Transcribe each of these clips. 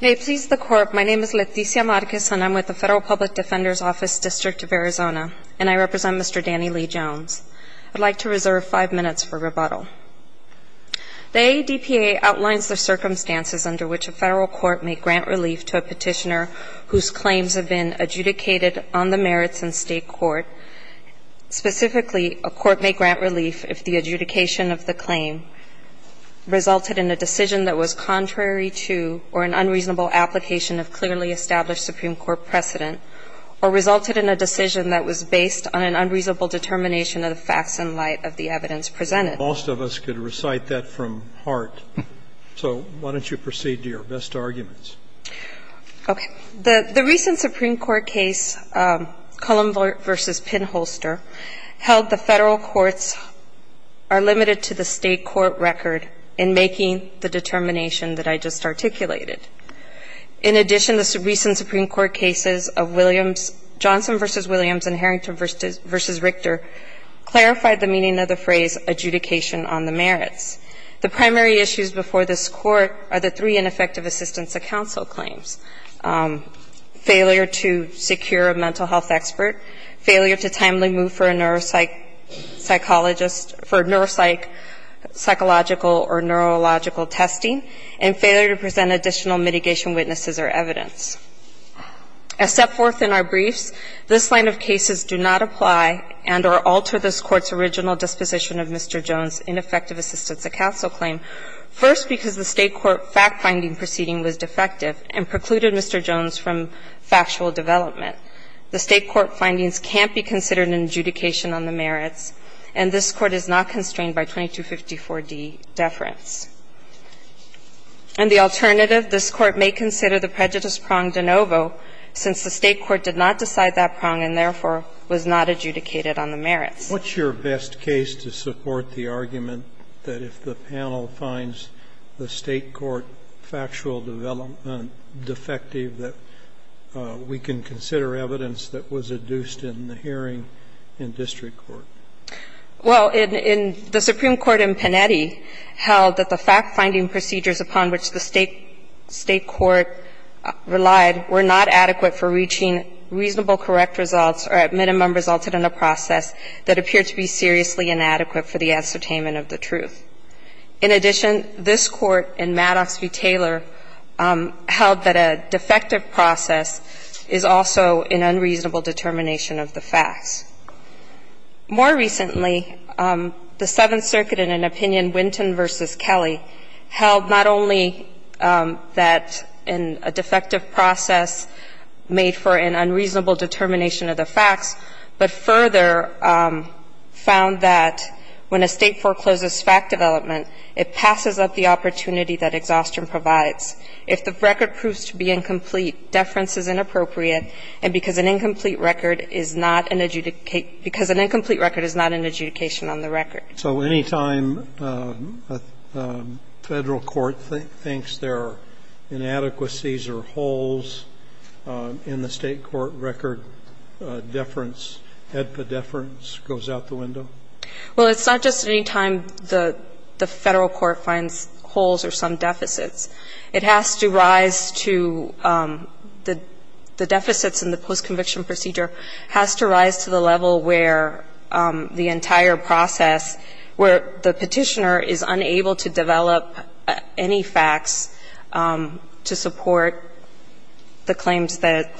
May it please the court, my name is Leticia Marquez and I'm with the Federal Public Defender's Office, District of Arizona, and I represent Mr. Danny Lee Jones. I'd like to reserve five minutes for rebuttal. The ADPA outlines the circumstances under which a federal court may grant relief to a petitioner whose claims have been adjudicated on the merits in state court. Specifically, a court may grant relief if the adjudication of the claim resulted in a decision that was contrary to or an unreasonable application of clearly established Supreme Court precedent or resulted in a decision that was based on an unreasonable determination of the facts in light of the evidence presented. Most of us could recite that from heart. So why don't you proceed to your best arguments. Okay. The recent Supreme Court case, Cullum v. Pinholster, held the Federal courts are limited to the state court record in making the determination that I just articulated. In addition, the recent Supreme Court cases of Johnson v. Williams and Harrington v. Richter clarified the meaning of the phrase adjudication on the merits. The primary issues before this court are the three ineffective assistance of counsel claims, failure to secure a mental health expert, failure to timely move for a neuropsychologist for neuropsychological or neurological testing, and failure to present additional mitigation witnesses or evidence. As set forth in our briefs, this line of cases do not apply and or alter this Court's original disposition of Mr. Jones' ineffective assistance of counsel claim, first because the state court fact-finding proceeding was defective and precluded Mr. Jones from factual development. The state court findings can't be considered an adjudication on the merits, and this Court is not constrained by 2254d deference. And the alternative, this Court may consider the prejudice prong de novo since the state court did not decide that prong and, therefore, was not adjudicated on the merits. What's your best case to support the argument that if the panel finds the state court factual defective, that we can consider evidence that was adduced in the hearing in district court? Well, in the Supreme Court in Panetti held that the fact-finding procedures upon which the state court relied were not adequate for reaching reasonable correct results or at minimum resulted in a process that appeared to be seriously inadequate for the ascertainment of the truth. In addition, this Court in Madoff v. Taylor held that a defective process is also an unreasonable determination of the facts. More recently, the Seventh Circuit in an opinion, Winton v. Kelly, held not only that a defective process made for an unreasonable determination of the facts but further found that when a State forecloses fact development, it passes up the opportunity that exhaustion provides. If the record proves to be incomplete, deference is inappropriate, and because an incomplete record is not an adjudicate – because an incomplete record is not an adjudication on the record. So any time a Federal court thinks there are inadequacies or holes in the State court record, deference, HEDPA deference, goes out the window? Well, it's not just any time the Federal court finds holes or some deficits. It has to rise to the deficits in the post-conviction procedure has to rise to the entire process where the Petitioner is unable to develop any facts to support the claims that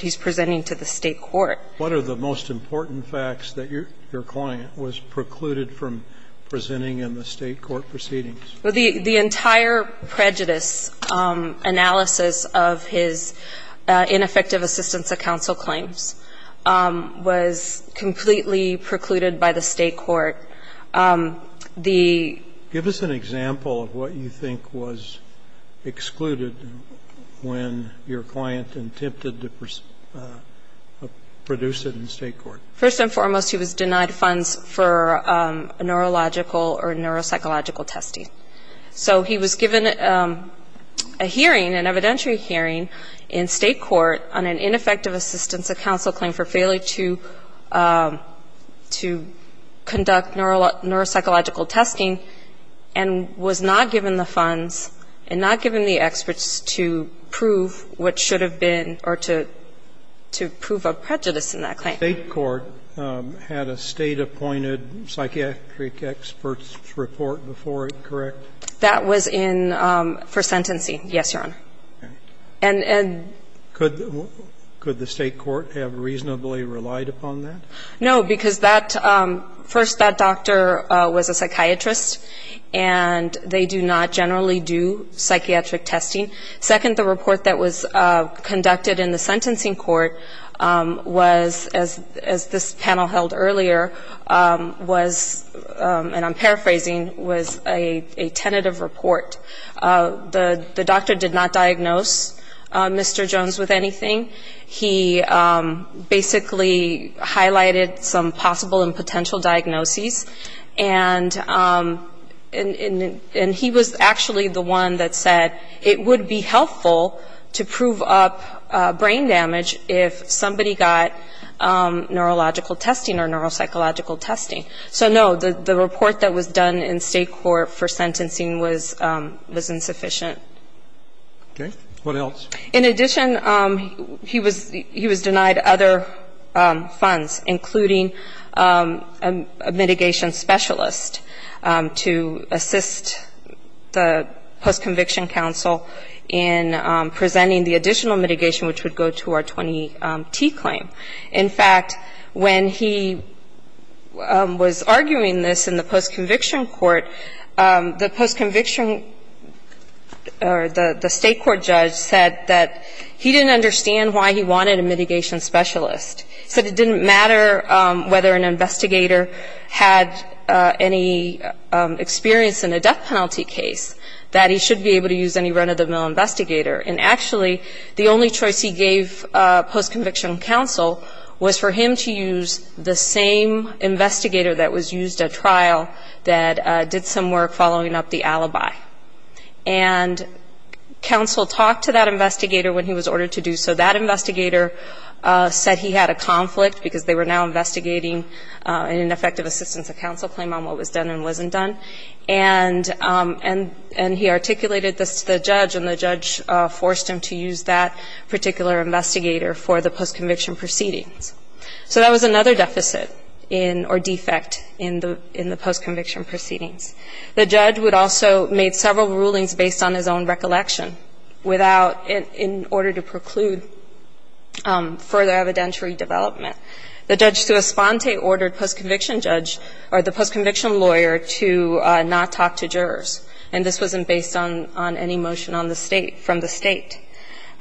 he's presenting to the State court. What are the most important facts that your client was precluded from presenting in the State court proceedings? Well, the entire prejudice analysis of his ineffective assistance of counsel claims was completely precluded by the State court. The – Give us an example of what you think was excluded when your client attempted to produce it in the State court. First and foremost, he was denied funds for neurological or neuropsychological testing. So he was given a hearing, an evidentiary hearing in State court on an ineffective assistance of counsel claim for failing to conduct neuropsychological testing, and was not given the funds and not given the experts to prove what should have been or to prove a prejudice in that claim. State court had a State-appointed psychiatric experts report before it, correct? That was in first sentencing. Yes, Your Honor. And – Could the State court have reasonably relied upon that? No, because that – first, that doctor was a psychiatrist, and they do not generally do psychiatric testing. Second, the report that was conducted in the sentencing court was, as this panel held earlier, was – and I'm paraphrasing – was a tentative report. The doctor did not diagnose Mr. Jones with anything. He basically highlighted some possible and potential diagnoses. And he was actually the one that said it would be helpful to prove up brain damage if somebody got neurological testing or neuropsychological testing. So, no, the report that was done in State court for sentencing was insufficient. Okay. What else? In addition, he was denied other funds, including a mitigation specialist to assist the post-conviction counsel in presenting the additional mitigation, which would go to our 20T claim. In fact, when he was arguing this in the post-conviction court, the post-conviction or the State court judge said that he didn't understand why he wanted a mitigation specialist. He said it didn't matter whether an investigator had any experience in a death penalty case, that he should be able to use any run-of-the-mill investigator. And actually, the only choice he gave post-conviction counsel was for him to use the same investigator that was used at trial that did some work following up the alibi. And counsel talked to that investigator when he was ordered to do so. That investigator said he had a conflict because they were now investigating an ineffective assistance of counsel claim on what was done and wasn't done. And he articulated this to the judge, and the judge forced him to use that particular investigator for the post-conviction proceedings. So that was another deficit or defect in the post-conviction proceedings. The judge would also make several rulings based on his own recollection without – in order to preclude further evidentiary development. The judge to Esponte ordered post-conviction judge – or the post-conviction lawyer to not talk to jurors. And this wasn't based on any motion on the State – from the State.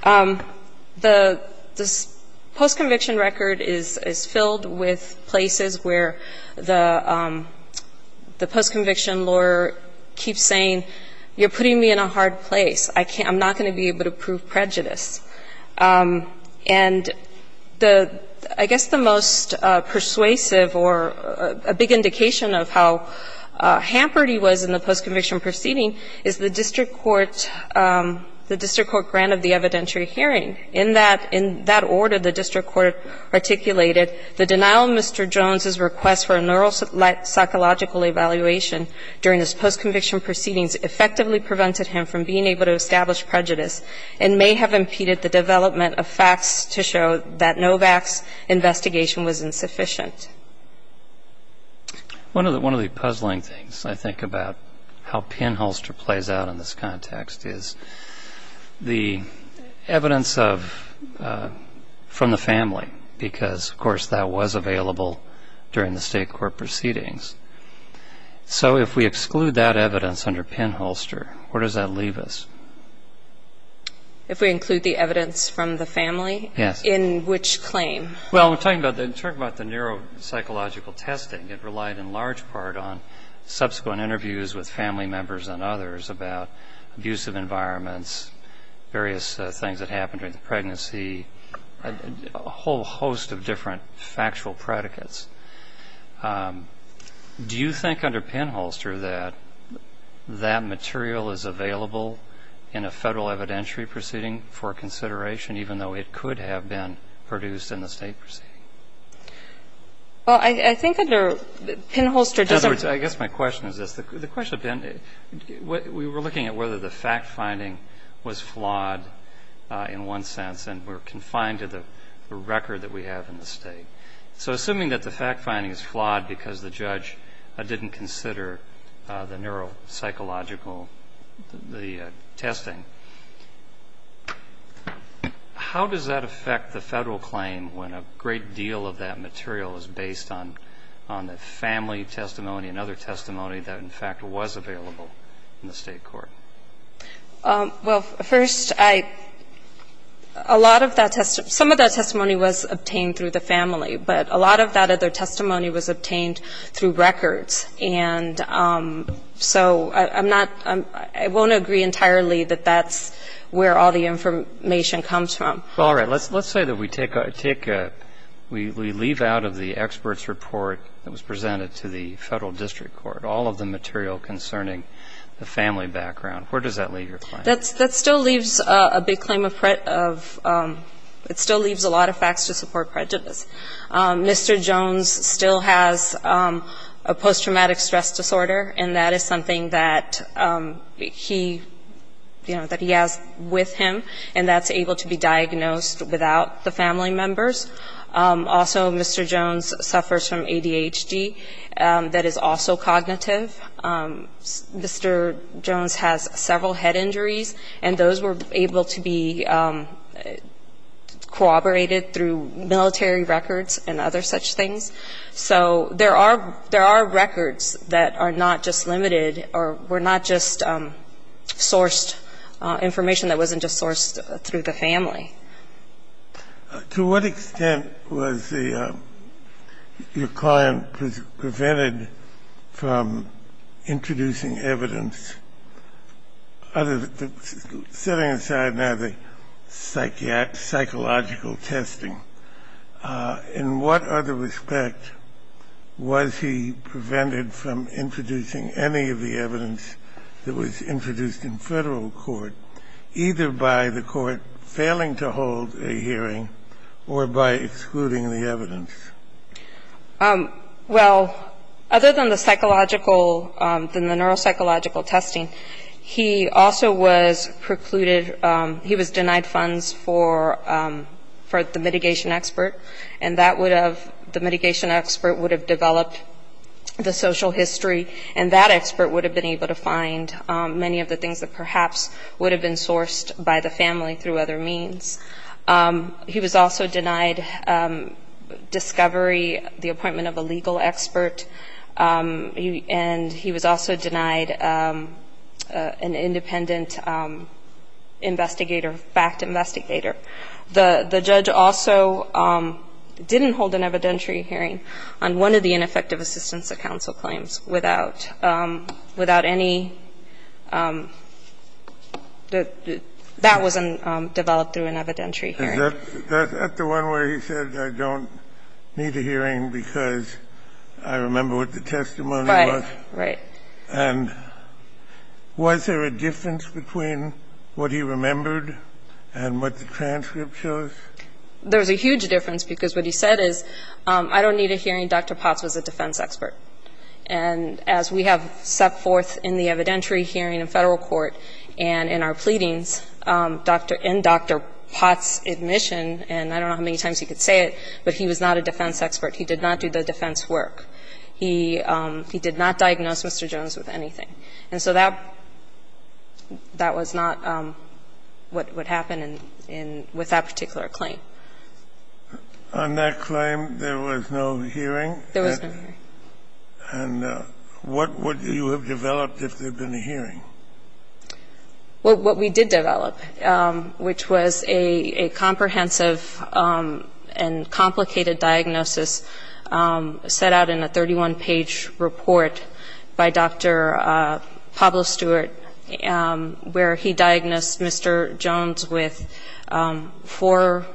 The post-conviction record is filled with places where the post-conviction lawyer keeps saying, you're putting me in a hard place. I'm not going to be able to prove prejudice. And the – I guess the most persuasive or a big indication of how hampered he was in the post-conviction proceeding is the district court – the district court grant of the evidentiary hearing. In that – in that order, the district court articulated the denial of Mr. Jones's request for a neuropsychological evaluation during his post-conviction proceedings effectively prevented him from being able to establish prejudice and may have impeded the development of facts to show that Novak's investigation was insufficient. One of the – one of the puzzling things, I think, about how pinholster plays out in this context is the evidence of – from the family because, of course, that was available during the State court proceedings. So if we exclude that evidence under pinholster, where does that leave us? If we include the evidence from the family? Yes. In which claim? Well, we're talking about the neuropsychological testing. It relied in large part on subsequent interviews with family members and others about abusive environments, various things that happened during pregnancy, a whole host of different factual predicates. Do you think under pinholster that that material is available in a Federal evidentiary proceeding for consideration, even though it could have been produced in the State proceeding? Well, I think under pinholster doesn't – In other words, I guess my question is this. The question – we were looking at whether the fact-finding was flawed in one sense and we're confined to the record that we have in the State. So assuming that the fact-finding is flawed because the judge didn't consider the neuropsychological – the testing, how does that affect the Federal claim when a great deal of that material is based on the family testimony and other testimony that, in fact, was available in the State court? Well, first, I – a lot of that – some of that testimony was obtained through the family, but a lot of that other testimony was obtained through records. And so I'm not – I won't agree entirely that that's where all the information comes from. Well, all right. Let's say that we take – we leave out of the expert's report that was presented to the family background. Where does that leave your claim? That still leaves a big claim of – it still leaves a lot of facts to support prejudice. Mr. Jones still has a post-traumatic stress disorder, and that is something that he – that he has with him, and that's able to be diagnosed without the family members. Also, Mr. Jones suffers from ADHD. That is also cognitive. Mr. Jones has several head injuries, and those were able to be corroborated through military records and other such things. So there are – there are records that are not just limited or were not just sourced information that wasn't just sourced through the family. To what extent was the – your client prevented from introducing evidence other than – setting aside, now, the psychological testing, in what other respect was he prevented from introducing any of the evidence that was introduced in Federal court, either by the court failing to hold a hearing or by excluding the evidence? Well, other than the psychological – than the neuropsychological testing, he also was precluded – he was denied funds for the mitigation expert, and that would have – the mitigation expert would have developed the social history, and that expert would have been able to find many of the things that perhaps would have been sourced by the family through other means. He was also denied discovery, the appointment of a legal expert, and he was also denied an independent investigator, fact investigator. The judge also didn't hold an evidentiary hearing on one of the ineffective assistance that counsel claims without – without any – that wasn't developed through an evidentiary hearing. Is that the one where he said, I don't need a hearing because I remember what the testimony was? Right. Right. And was there a difference between what he remembered and what the transcript shows? There was a huge difference, because what he said is, I don't need a hearing. Dr. Potts was a defense expert. And as we have set forth in the evidentiary hearing in Federal court and in our pleadings, Dr. – in Dr. Potts' admission, and I don't know how many times he could say it, but he was not a defense expert. He did not do the defense work. He – he did not diagnose Mr. Jones with anything. And so that – that was not what happened in – with that particular claim. On that claim, there was no hearing? There was no hearing. And what would you have developed if there had been a hearing? Well, what we did develop, which was a comprehensive and complicated diagnosis set out in a 31-page report by Dr. Pablo Stewart, where he diagnosed Mr. Jones with four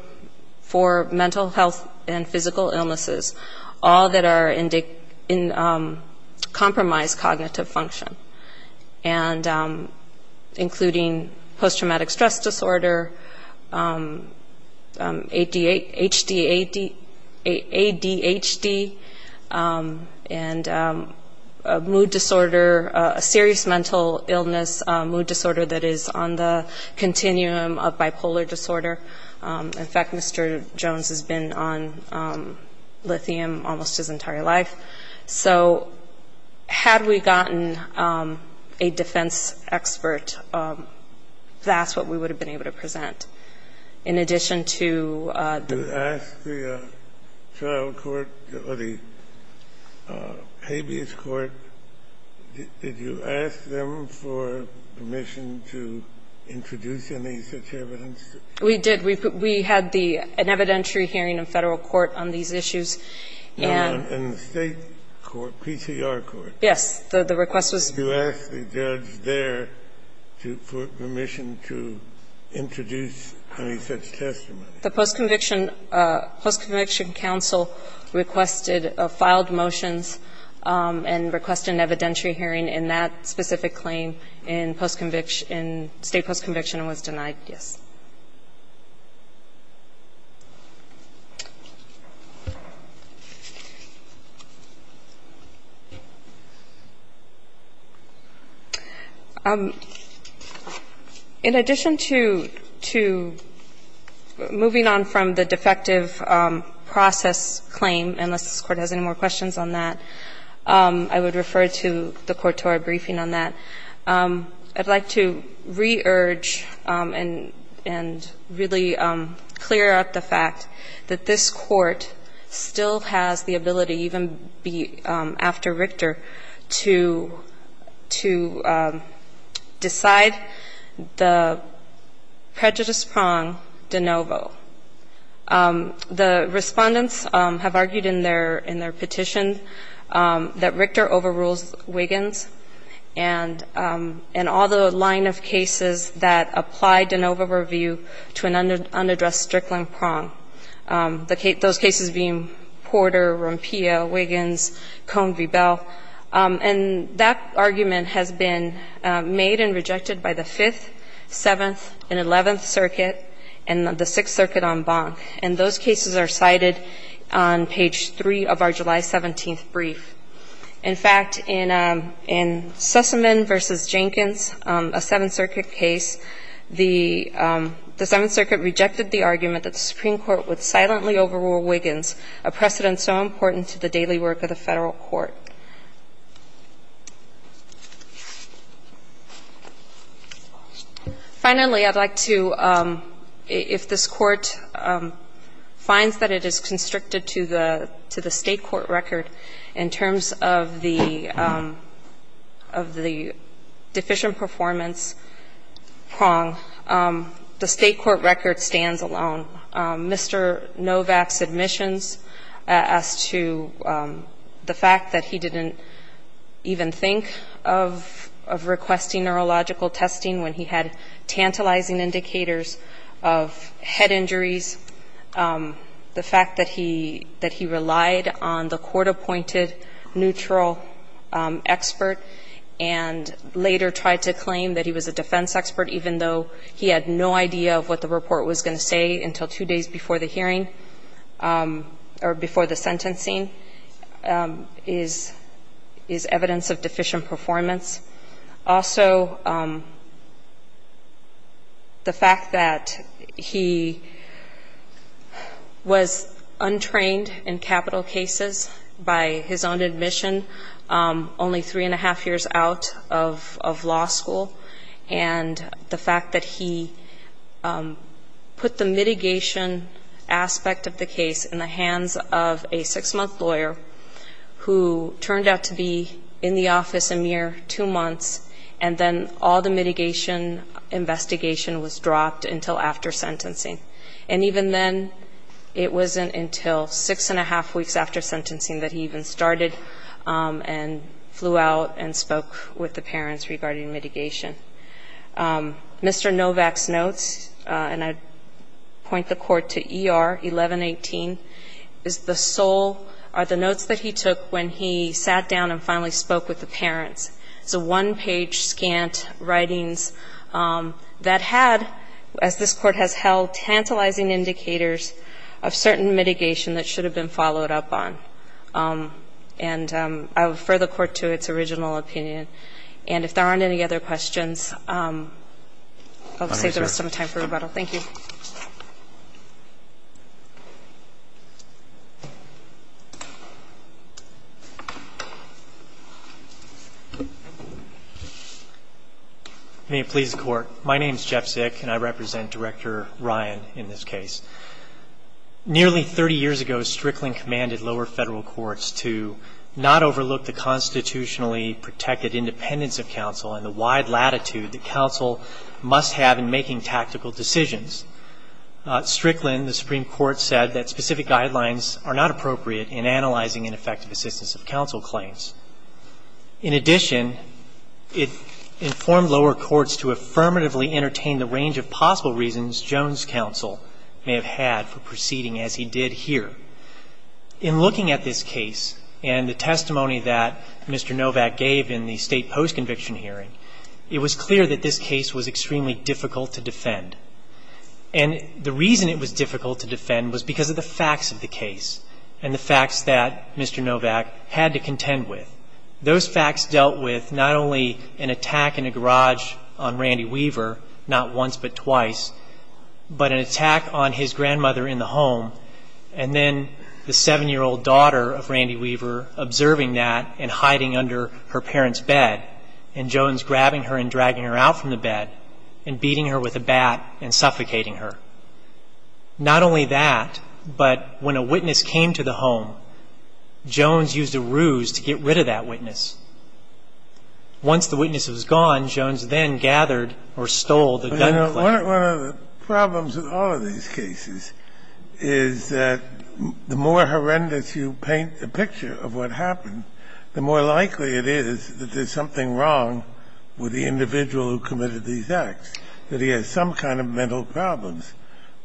mental health and physical illnesses, all that are in compromised cognitive function, and including post-traumatic stress disorder, ADHD, and mood disorder, a serious mental illness, mood disorder that is on the continuum of bipolar disorder. In fact, Mr. Jones has been on lithium almost his entire life. So had we gotten a defense expert, that's what we would have been able to present. In addition to – The trial court or the habeas court, did you ask them for permission to introduce any such evidence? We did. We had the – an evidentiary hearing in Federal court on these issues. And the State court, PCR court. Yes. The request was – Did you ask the judge there for permission to introduce any such testimony? The post-conviction – post-conviction counsel requested – filed motions and requested an evidentiary hearing in that specific claim in post-conviction – in State post-conviction and was denied, yes. In addition to – to moving on from the defective process claim, unless this court has any more questions on that, I would refer to the court to our briefing on that. I'd like to re-urge and – and really clear up the fact that this court still has the ability, even after Richter, to – to decide the prejudice prong de novo. The Respondents have argued in their – in their petition that Richter overrules Wiggins and – and all the line of cases that apply de novo review to an unaddressed Strickland prong, the – those cases being Porter, Rompillo, Wiggins, Cohn v. Bell. And that argument has been made and rejected by the Fifth, Seventh, and Eleventh Circuit and the Sixth Circuit en banc. And those cases are cited on page 3 of our July 17th brief. In fact, in – in Sussman v. Jenkins, a Seventh Circuit case, the – the Seventh Circuit rejected the argument that the Supreme Court would silently overrule Wiggins, a precedent so important to the daily work of the Federal court. Finally, I'd like to – if this Court finds that it is constricted to the – to the State court record in terms of the – of the deficient performance prong, the State court record stands alone. Mr. Novak's admissions as to the fact that he didn't even think of – of requesting neurological testing when he had tantalizing indicators of head injuries, the fact that he – that he relied on the court-appointed neutral expert and later tried to claim that he was a defense expert even though he had no idea of what the report was going to say until two days before the hearing or before the sentencing is – is evidence of deficient performance. Also, the fact that he was untrained in capital cases by his own admission only three and a half weeks after sentencing that he even started and flew out and spoke with the parents regarding the case. And the fact that he put the mitigation aspect of the case in the hands of a six-month lawyer who turned out to be in the office a mere two months and then all the mitigation investigation was dropped until after sentencing. And even then, it wasn't until six and a half weeks after sentencing that he even started and flew out and spoke with the parents regarding mitigation. Mr. Novak's notes, and I point the court to ER 1118, is the sole – are the notes that he took when he sat down and finally spoke with the parents. It's a one-page, scant writings that had, as this court has held, tantalizing indicators of certain mitigation that should have been followed up on. And I refer the court to its original opinion. And if there aren't any other questions, I'll save the rest of my time for rebuttal. Thank you. May it please the court. My name is Jeff Sick, and I represent Director Ryan in this case. Nearly 30 years ago, Strickland commanded lower federal courts to not overlook the constitutionally protected independence of counsel and the wide latitude that counsel must have in making tactical decisions. Strickland, the Supreme Court, said that specific guidelines are not appropriate in analyzing ineffective assistance of counsel claims. In addition, it informed lower courts to affirmatively entertain the range of possible reasons Jones counsel may have had for proceeding as he did here. In looking at this case and the testimony that Mr. Novak gave in the state post-conviction hearing, it was clear that this case was extremely difficult to defend. And the reason it was difficult to defend was because of the facts of the case and the facts that Mr. Novak had to contend with. Those facts dealt with not only an attack in a garage on Randy Weaver, not once but twice, but an attack on his grandmother in the home, and then the 7-year-old daughter of Randy Weaver observing that and hiding under her parents' bed, and Jones grabbing her and dragging her out from the bed and beating her with a bat and suffocating her. Not only that, but when a witness came to the home, Jones used a ruse to get rid of that witness. Once the witness was gone, Jones then gathered or stole the gun clip. So one of the problems with all of these cases is that the more horrendous you paint the picture of what happened, the more likely it is that there's something wrong with the individual who committed these acts, that he has some kind of mental problems.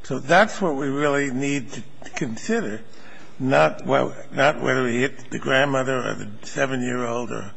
So that's what we really need to consider, not whether he hit the grandmother or the 7-year-old or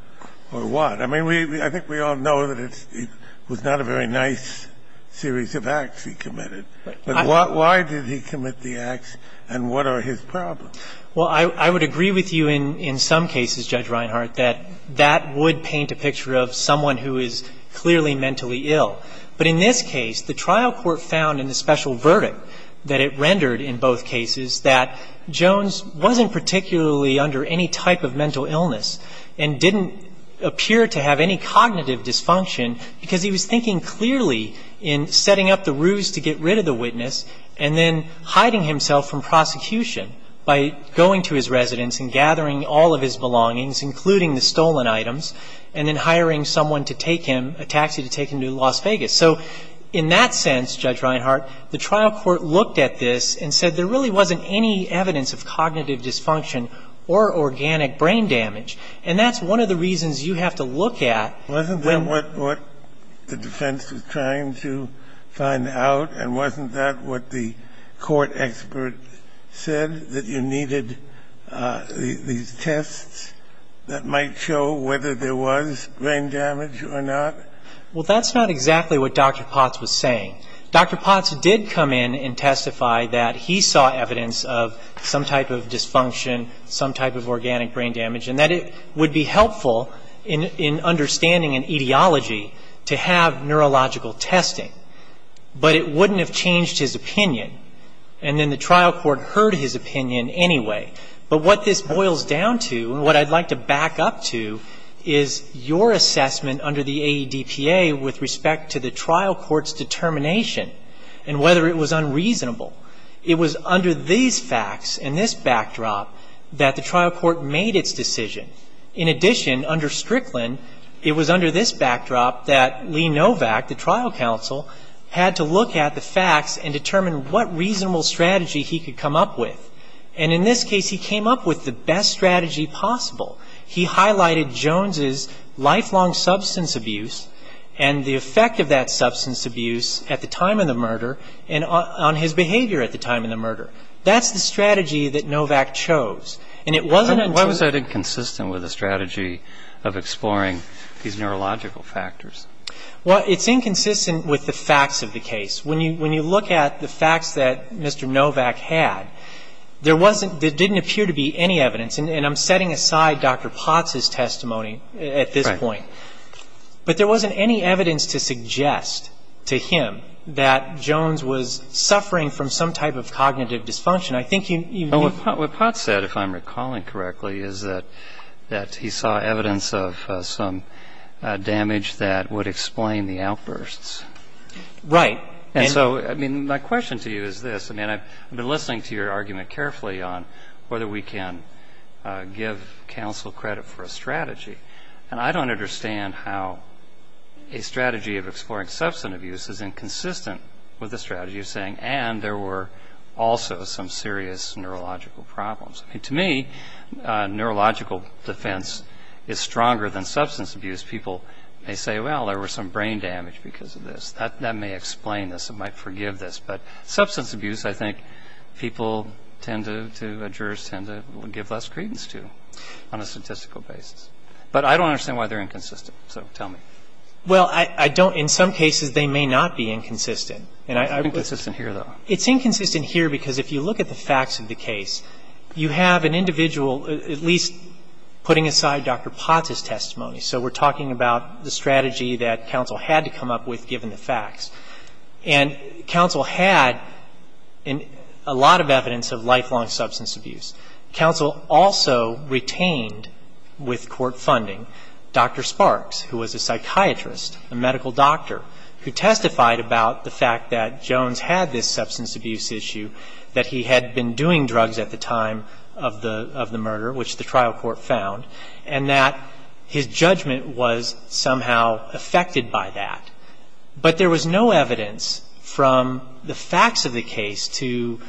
what. I mean, I think we all know that it was not a very nice series of acts he committed. But why did he commit the acts and what are his problems? Well, I would agree with you in some cases, Judge Reinhart, that that would paint a picture of someone who is clearly mentally ill. But in this case, the trial court found in the special verdict that it rendered in both cases that Jones wasn't particularly under any type of mental illness and didn't appear to have any cognitive dysfunction, because he was thinking clearly in setting up the ruse to get rid of the witness and then hiding himself from prosecution by going to his residence and gathering all of his belongings, including the stolen items, and then hiring someone to take him, a taxi to take him to Las Vegas. So in that sense, Judge Reinhart, the trial court looked at this and said there really wasn't any evidence of cognitive dysfunction or organic brain damage. And that's one of the reasons you have to look at when the defense was trying to find out, and wasn't that what the court expert said, that you needed these tests that might show whether there was brain damage or not? Well, that's not exactly what Dr. Potts was saying. Dr. Potts did come in and testify that he saw evidence of some type of dysfunction, some type of organic brain damage, and that it would be helpful in understanding an etiology to have neurological testing. But it wouldn't have changed his opinion. And then the trial court heard his opinion anyway. But what this boils down to, and what I'd like to back up to, is your assessment under the AEDPA with respect to the trial court's determination and whether it was unreasonable. It was under these facts and this backdrop that the trial court made its decision. In addition, under Strickland, it was under this backdrop that Lee Novak, the trial counsel, had to look at the facts and determine what reasonable strategy he could come up with. And in this case, he came up with the best strategy possible. He highlighted Jones' lifelong substance abuse and the effect of that substance abuse at the time of the murder and on his behavior at the time of the murder. That's the strategy that Novak chose. And it wasn't until Why was that inconsistent with the strategy of exploring these neurological factors? Well, it's inconsistent with the facts of the case. When you look at the facts that Mr. Novak had, there wasn't – there didn't appear to be any evidence. And I'm setting aside Dr. Potts' testimony at this point. But there wasn't any evidence to suggest to him that Jones was suffering from some type of cognitive dysfunction. I think you What Potts said, if I'm recalling correctly, is that he saw evidence of some damage that would explain the outbursts. Right. And so, I mean, my question to you is this. I mean, I've been listening to your argument carefully on whether we can give counsel credit for a strategy. And I don't understand how a strategy of exploring substance abuse is inconsistent with the strategy of saying, and there were also some serious neurological problems. I mean, to me, neurological defense is stronger than substance abuse. People may say, well, there was some brain damage because of this. That may explain this. It might forgive this. But substance abuse, I think, people tend to – jurors tend to give less credence to on a statistical basis. But I don't understand why they're inconsistent. So tell me. Well, I don't – in some cases, they may not be inconsistent. It's inconsistent here, though. It's inconsistent here because if you look at the facts of the case, you have an individual at least putting aside Dr. Potts' testimony. And counsel had a lot of evidence of lifelong substance abuse. Counsel also retained with court funding Dr. Sparks, who was a psychiatrist, a medical doctor, who testified about the fact that Jones had this substance abuse issue, that he had been doing drugs at the time of the murder, which the trial court found, and that his judgment was somehow affected by that. But there was no evidence from the facts of the case to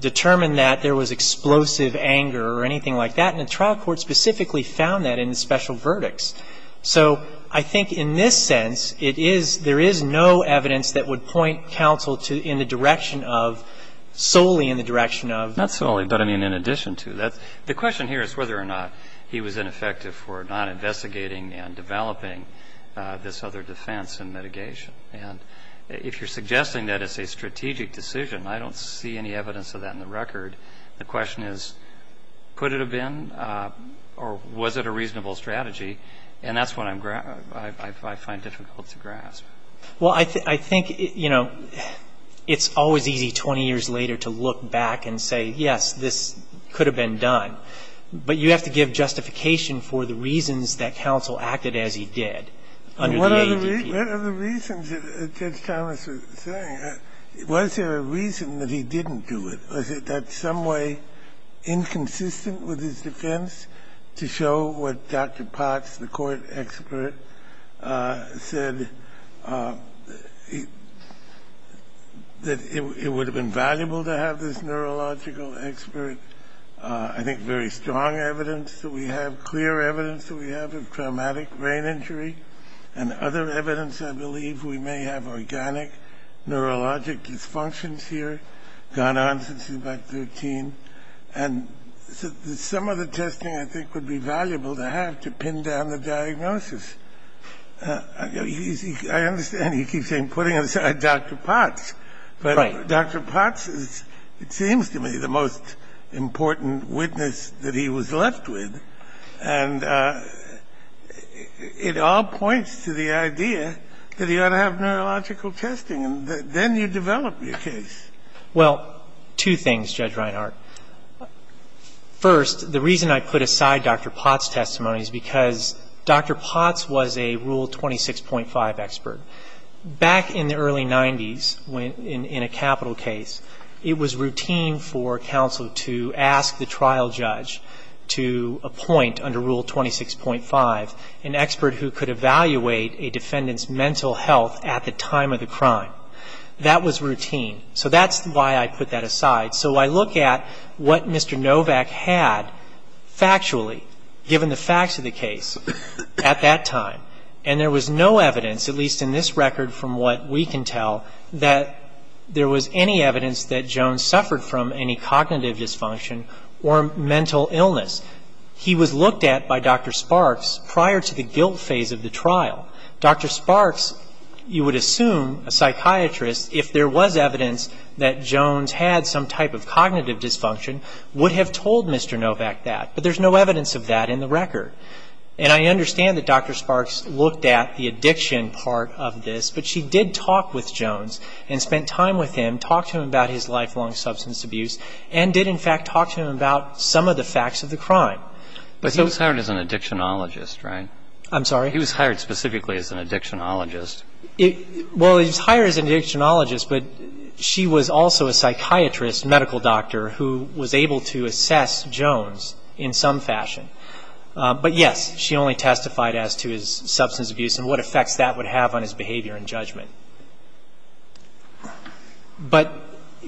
determine that there was explosive anger or anything like that. And the trial court specifically found that in the special verdicts. So I think in this sense, it is – there is no evidence that would point counsel to – in the direction of – solely in the direction of – Not solely, but, I mean, in addition to. The question here is whether or not he was ineffective for not investigating and developing this other defense in mitigation. And if you're suggesting that it's a strategic decision, I don't see any evidence of that in the record. The question is, could it have been or was it a reasonable strategy? And that's what I'm – I find difficult to grasp. Well, I think, you know, it's always easy 20 years later to look back and say, yes, this could have been done. But you have to give justification for the reasons that counsel acted as he did under the ADP. Well, what are the reasons that Judge Thomas was saying? Was there a reason that he didn't do it? Was it that some way inconsistent with his defense to show what Dr. Potts, the court expert, said, that it would have been valuable to have this neurological expert, I think very strong evidence that we have, clear evidence that we have of traumatic brain injury, and other evidence I believe we may have organic neurologic dysfunctions here, gone on since he was about 13. And some of the testing I think would be valuable to have to pin down the diagnosis. I understand he keeps saying, putting aside Dr. Potts. Right. Dr. Potts is, it seems to me, the most important witness that he was left with. And it all points to the idea that he ought to have neurological testing. And then you develop your case. Well, two things, Judge Reinhart. First, the reason I put aside Dr. Potts' testimony is because Dr. Potts was a Rule 26.5 expert. Back in the early 90s, in a capital case, it was routine for counsel to ask the trial judge to appoint, under Rule 26.5, an expert who could evaluate a defendant's mental health at the time of the crime. That was routine. So that's why I put that aside. So I look at what Mr. Novak had factually, given the facts of the case, at that time. And there was no evidence, at least in this record from what we can tell, that there was any evidence that Jones suffered from any cognitive dysfunction or mental illness. He was looked at by Dr. Sparks prior to the guilt phase of the trial. Dr. Sparks, you would assume, a psychiatrist, if there was evidence that Jones had some type of cognitive dysfunction, would have told Mr. Novak that. But there's no evidence of that in the record. And I understand that Dr. Sparks looked at the addiction part of this, but she did talk with Jones and spent time with him, talked to him about his lifelong substance abuse, and did, in fact, talk to him about some of the facts of the crime. But he was hired as an addictionologist, right? I'm sorry? He was hired specifically as an addictionologist. Well, he was hired as an addictionologist, but she was also a psychiatrist, medical doctor, who was able to assess Jones in some fashion. But, yes, she only testified as to his substance abuse and what effects that would have on his behavior and judgment. But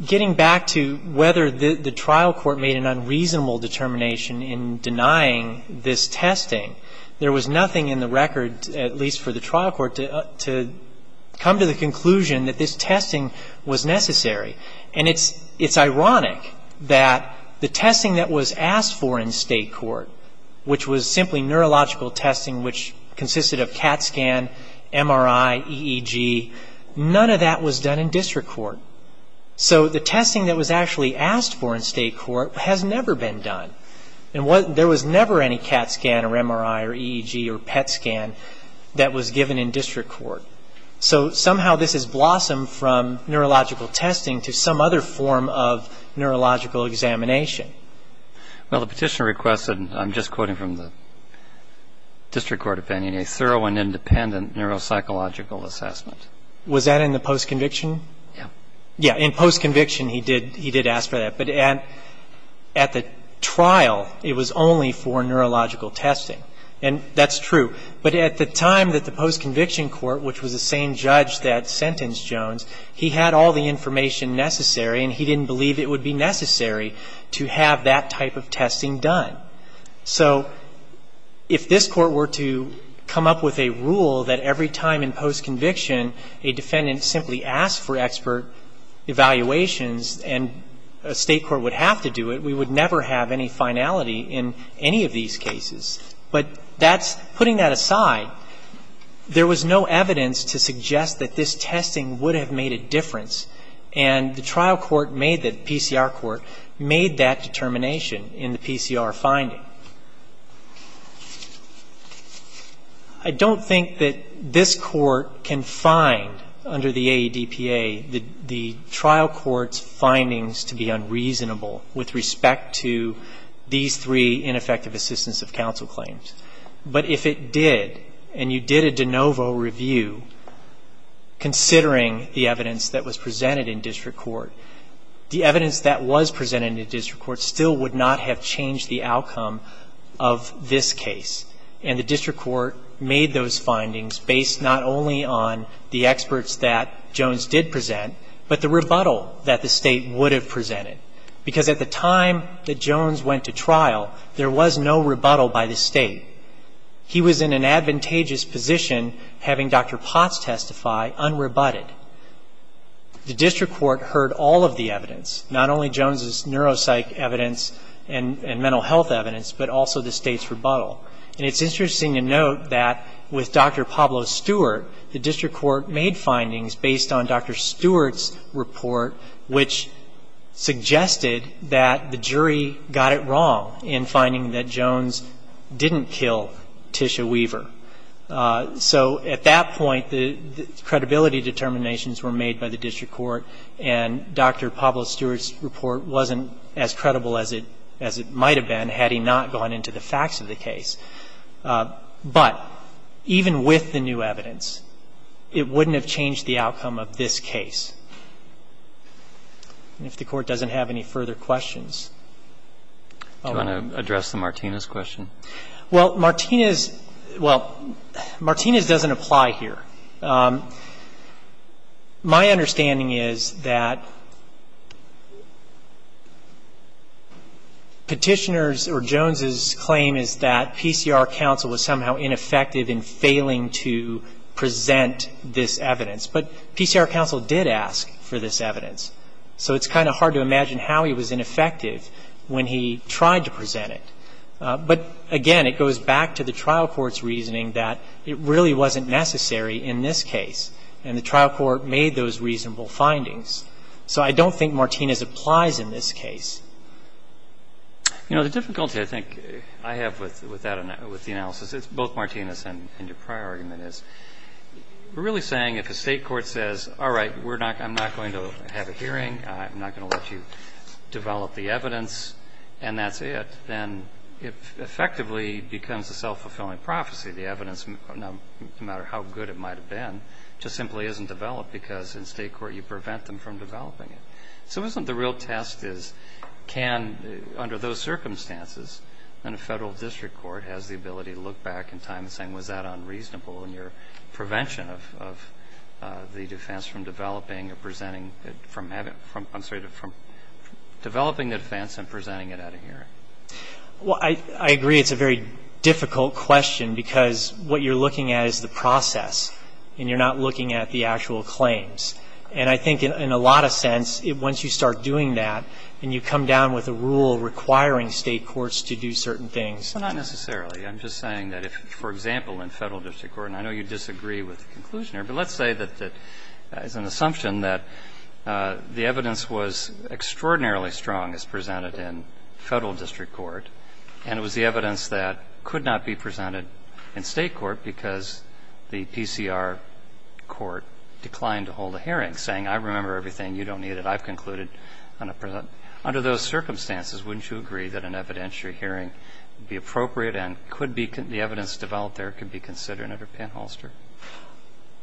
getting back to whether the trial court made an unreasonable determination in denying this testing, there was nothing in the record, at least for the trial court, to come to the conclusion that this testing was necessary. And it's ironic that the testing that was asked for in state court, which was simply neurological testing, which consisted of CAT scan, MRI, EEG, none of that was done in district court. So the testing that was actually asked for in state court has never been done. There was never any CAT scan or MRI or EEG or PET scan that was given in district court. So somehow this has blossomed from neurological testing to some other form of neurological examination. Well, the petitioner requested, and I'm just quoting from the district court opinion, a thorough and independent neuropsychological assessment. Was that in the postconviction? Yes. Yes, in postconviction he did ask for that. But at the trial, it was only for neurological testing. And that's true. But at the time that the postconviction court, which was the same judge that sentenced Jones, he had all the information necessary, and he didn't believe it would be necessary to have that type of testing done. So if this court were to come up with a rule that every time in postconviction a defendant simply asked for expert evaluations and a state court would have to do it, we would never have any finality in any of these cases. But that's, putting that aside, there was no evidence to suggest that this testing would have made a difference. And the trial court made that, the PCR court, made that determination in the PCR finding. I don't think that this court can find under the AEDPA the trial court's findings to be unreasonable with respect to these three ineffective assistance of counsel claims. But if it did, and you did a de novo review considering the evidence that was presented in district court, the evidence that was presented in district court still would not have changed the outcome of this case. And the district court made those findings based not only on the experts that Jones did present, but the rebuttal that the state would have presented. Because at the time that Jones went to trial, there was no rebuttal by the state. He was in an advantageous position having Dr. Potts testify unrebutted. The district court heard all of the evidence, not only Jones' neuropsych evidence and mental health evidence, but also the state's rebuttal. And it's interesting to note that with Dr. Pablo Stewart, the district court made findings based on Dr. Stewart's report, which suggested that the jury got it wrong in finding that Jones didn't kill Tisha Weaver. So at that point, the credibility determinations were made by the district court, and Dr. Pablo Stewart's report wasn't as credible as it might have been had he not gone into the facts of the case. But even with the new evidence, it wouldn't have changed the outcome of this case. And if the Court doesn't have any further questions, I'll end. Do you want to address the Martinez question? Well, Martinez — well, Martinez doesn't apply here. Martinez's claim is that PCR counsel was somehow ineffective in failing to present this evidence. But PCR counsel did ask for this evidence. So it's kind of hard to imagine how he was ineffective when he tried to present it. But, again, it goes back to the trial court's reasoning that it really wasn't necessary in this case. And the trial court made those reasonable findings. So I don't think Martinez applies in this case. You know, the difficulty I think I have with that — with the analysis, it's both Martinez and your prior argument, is we're really saying if a state court says, all right, I'm not going to have a hearing, I'm not going to let you develop the evidence, and that's it, then it effectively becomes a self-fulfilling prophecy. The evidence, no matter how good it might have been, just simply isn't developed because in state court you prevent them from developing it. So isn't the real test is can, under those circumstances, a federal district court has the ability to look back in time and say, was that unreasonable in your prevention of the defense from developing or presenting it from having — I'm sorry, from developing the defense and presenting it at a hearing? Well, I agree it's a very difficult question because what you're looking at is the process, and you're not looking at the actual claims. And I think in a lot of sense, once you start doing that and you come down with a rule requiring state courts to do certain things. Well, not necessarily. I'm just saying that if, for example, in federal district court, and I know you disagree with the conclusion here, but let's say that as an assumption that the evidence was extraordinarily strong as presented in federal district court, and it was the evidence that could not be presented in state court because the PCR court declined to hold a hearing, saying, I remember everything. You don't need it. I've concluded. Under those circumstances, wouldn't you agree that an evidentiary hearing would be appropriate and could be — the evidence developed there could be considered under Penn-Holster?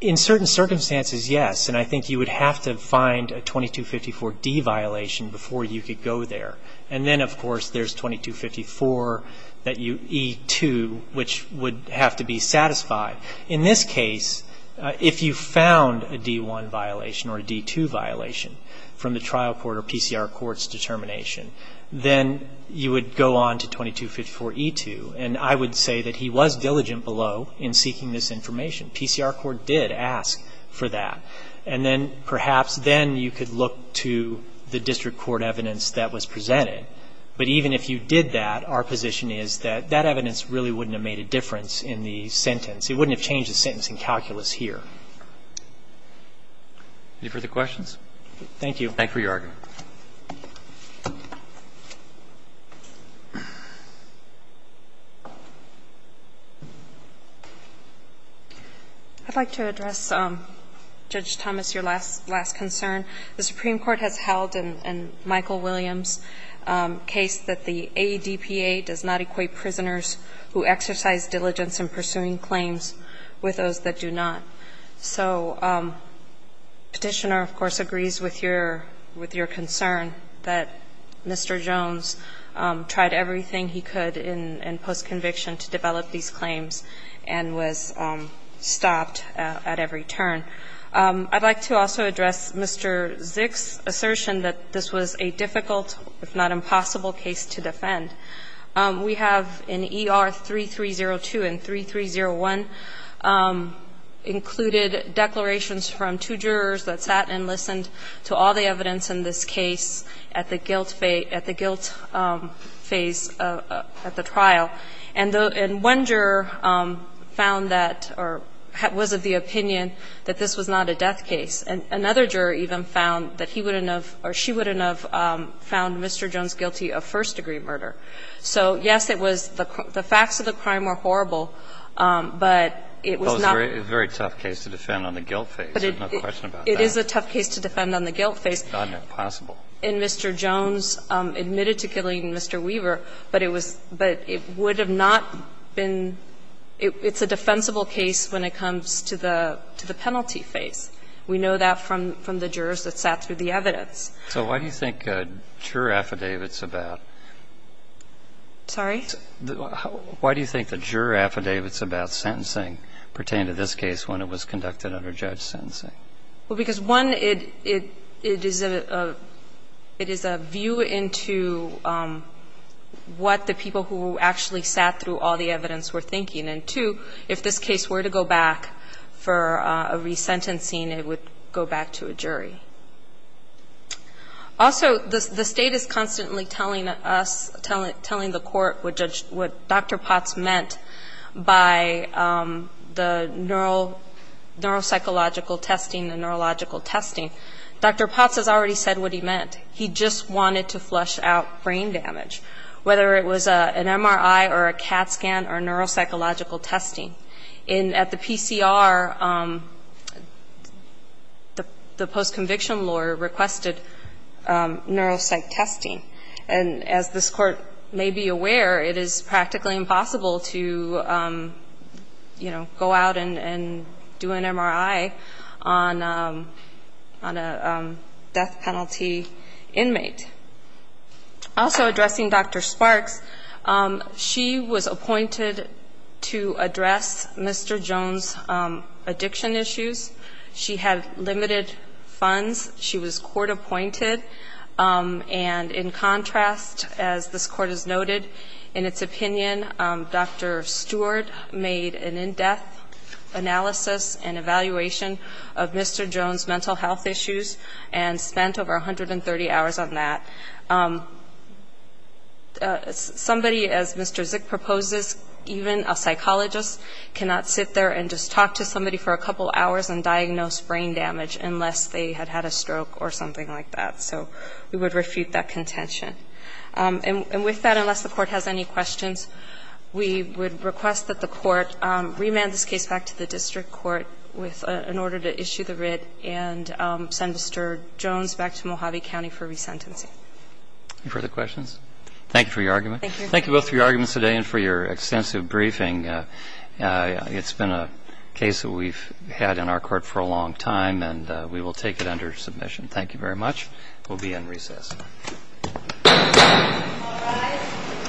In certain circumstances, yes. And I think you would have to find a 2254D violation before you could go there. And then, of course, there's 2254E2, which would have to be satisfied. In this case, if you found a D1 violation or a D2 violation from the trial court or PCR court's determination, then you would go on to 2254E2. And I would say that he was diligent below in seeking this information. PCR court did ask for that. And then perhaps then you could look to the district court evidence that was presented. But even if you did that, our position is that that evidence really wouldn't have made a difference in the sentence. It wouldn't have changed the sentence in calculus here. Any further questions? Thank you. Thank you for your argument. I'd like to address, Judge Thomas, your last concern. The Supreme Court has held in Michael Williams' case that the ADPA does not equate prisoners who exercise diligence in pursuing claims with those that do not. So Petitioner, of course, agrees with your concern that Mr. Jones tried everything he could in postconviction to develop these claims and was stopped at every turn. I'd like to also address Mr. Zick's assertion that this was a difficult, if not impossible, case to defend. We have in ER 3302 and 3301 included declarations from two jurors that sat and listened to all the evidence in this case at the guilt phase, at the trial. And one juror found that or was of the opinion that this was not a death case. And another juror even found that he wouldn't have or she wouldn't have found Mr. Jones guilty of first-degree murder. So, yes, it was the facts of the crime were horrible, but it was not. It was a very tough case to defend on the guilt phase. There's no question about that. It is a tough case to defend on the guilt phase. It's not impossible. And Mr. Jones admitted to killing Mr. Weaver, but it was – but it would have not been – it's a defensible case when it comes to the penalty phase. We know that from the jurors that sat through the evidence. So why do you think juror affidavits about – Sorry? Why do you think the juror affidavits about sentencing pertain to this case when it was conducted under judge sentencing? Well, because, one, it is a view into what the people who actually sat through all the evidence were thinking. And, two, if this case were to go back for a resentencing, it would go back to a jury. Also, the state is constantly telling us, telling the court what Dr. Potts meant by the neuropsychological testing and neurological testing. Dr. Potts has already said what he meant. He just wanted to flush out brain damage, whether it was an MRI or a CAT scan or neuropsychological testing. And at the PCR, the post-conviction lawyer requested neuropsych testing. And as this Court may be aware, it is practically impossible to, you know, go out and do an MRI on a death penalty inmate. Also addressing Dr. Sparks, she was appointed to address Mr. Jones' addiction issues. She had limited funds. She was court-appointed. And in contrast, as this Court has noted, in its opinion, Dr. Stewart made an in-death analysis and evaluation of Mr. Jones' mental health issues and spent over 130 hours on that. Somebody, as Mr. Zick proposes, even a psychologist cannot sit there and just talk to somebody for a couple of hours and diagnose brain damage unless they had had a stroke or something like that. So we would refute that contention. And with that, unless the Court has any questions, we would request that the Court remand this case back to the district court with an order to issue the writ and send Mr. Jones back to Mojave County for resentencing. Further questions? Thank you for your argument. Thank you. Thank you both for your arguments today and for your extensive briefing. It's been a case that we've had in our court for a long time, and we will take it under submission. Thank you very much. We'll be in recess. All rise.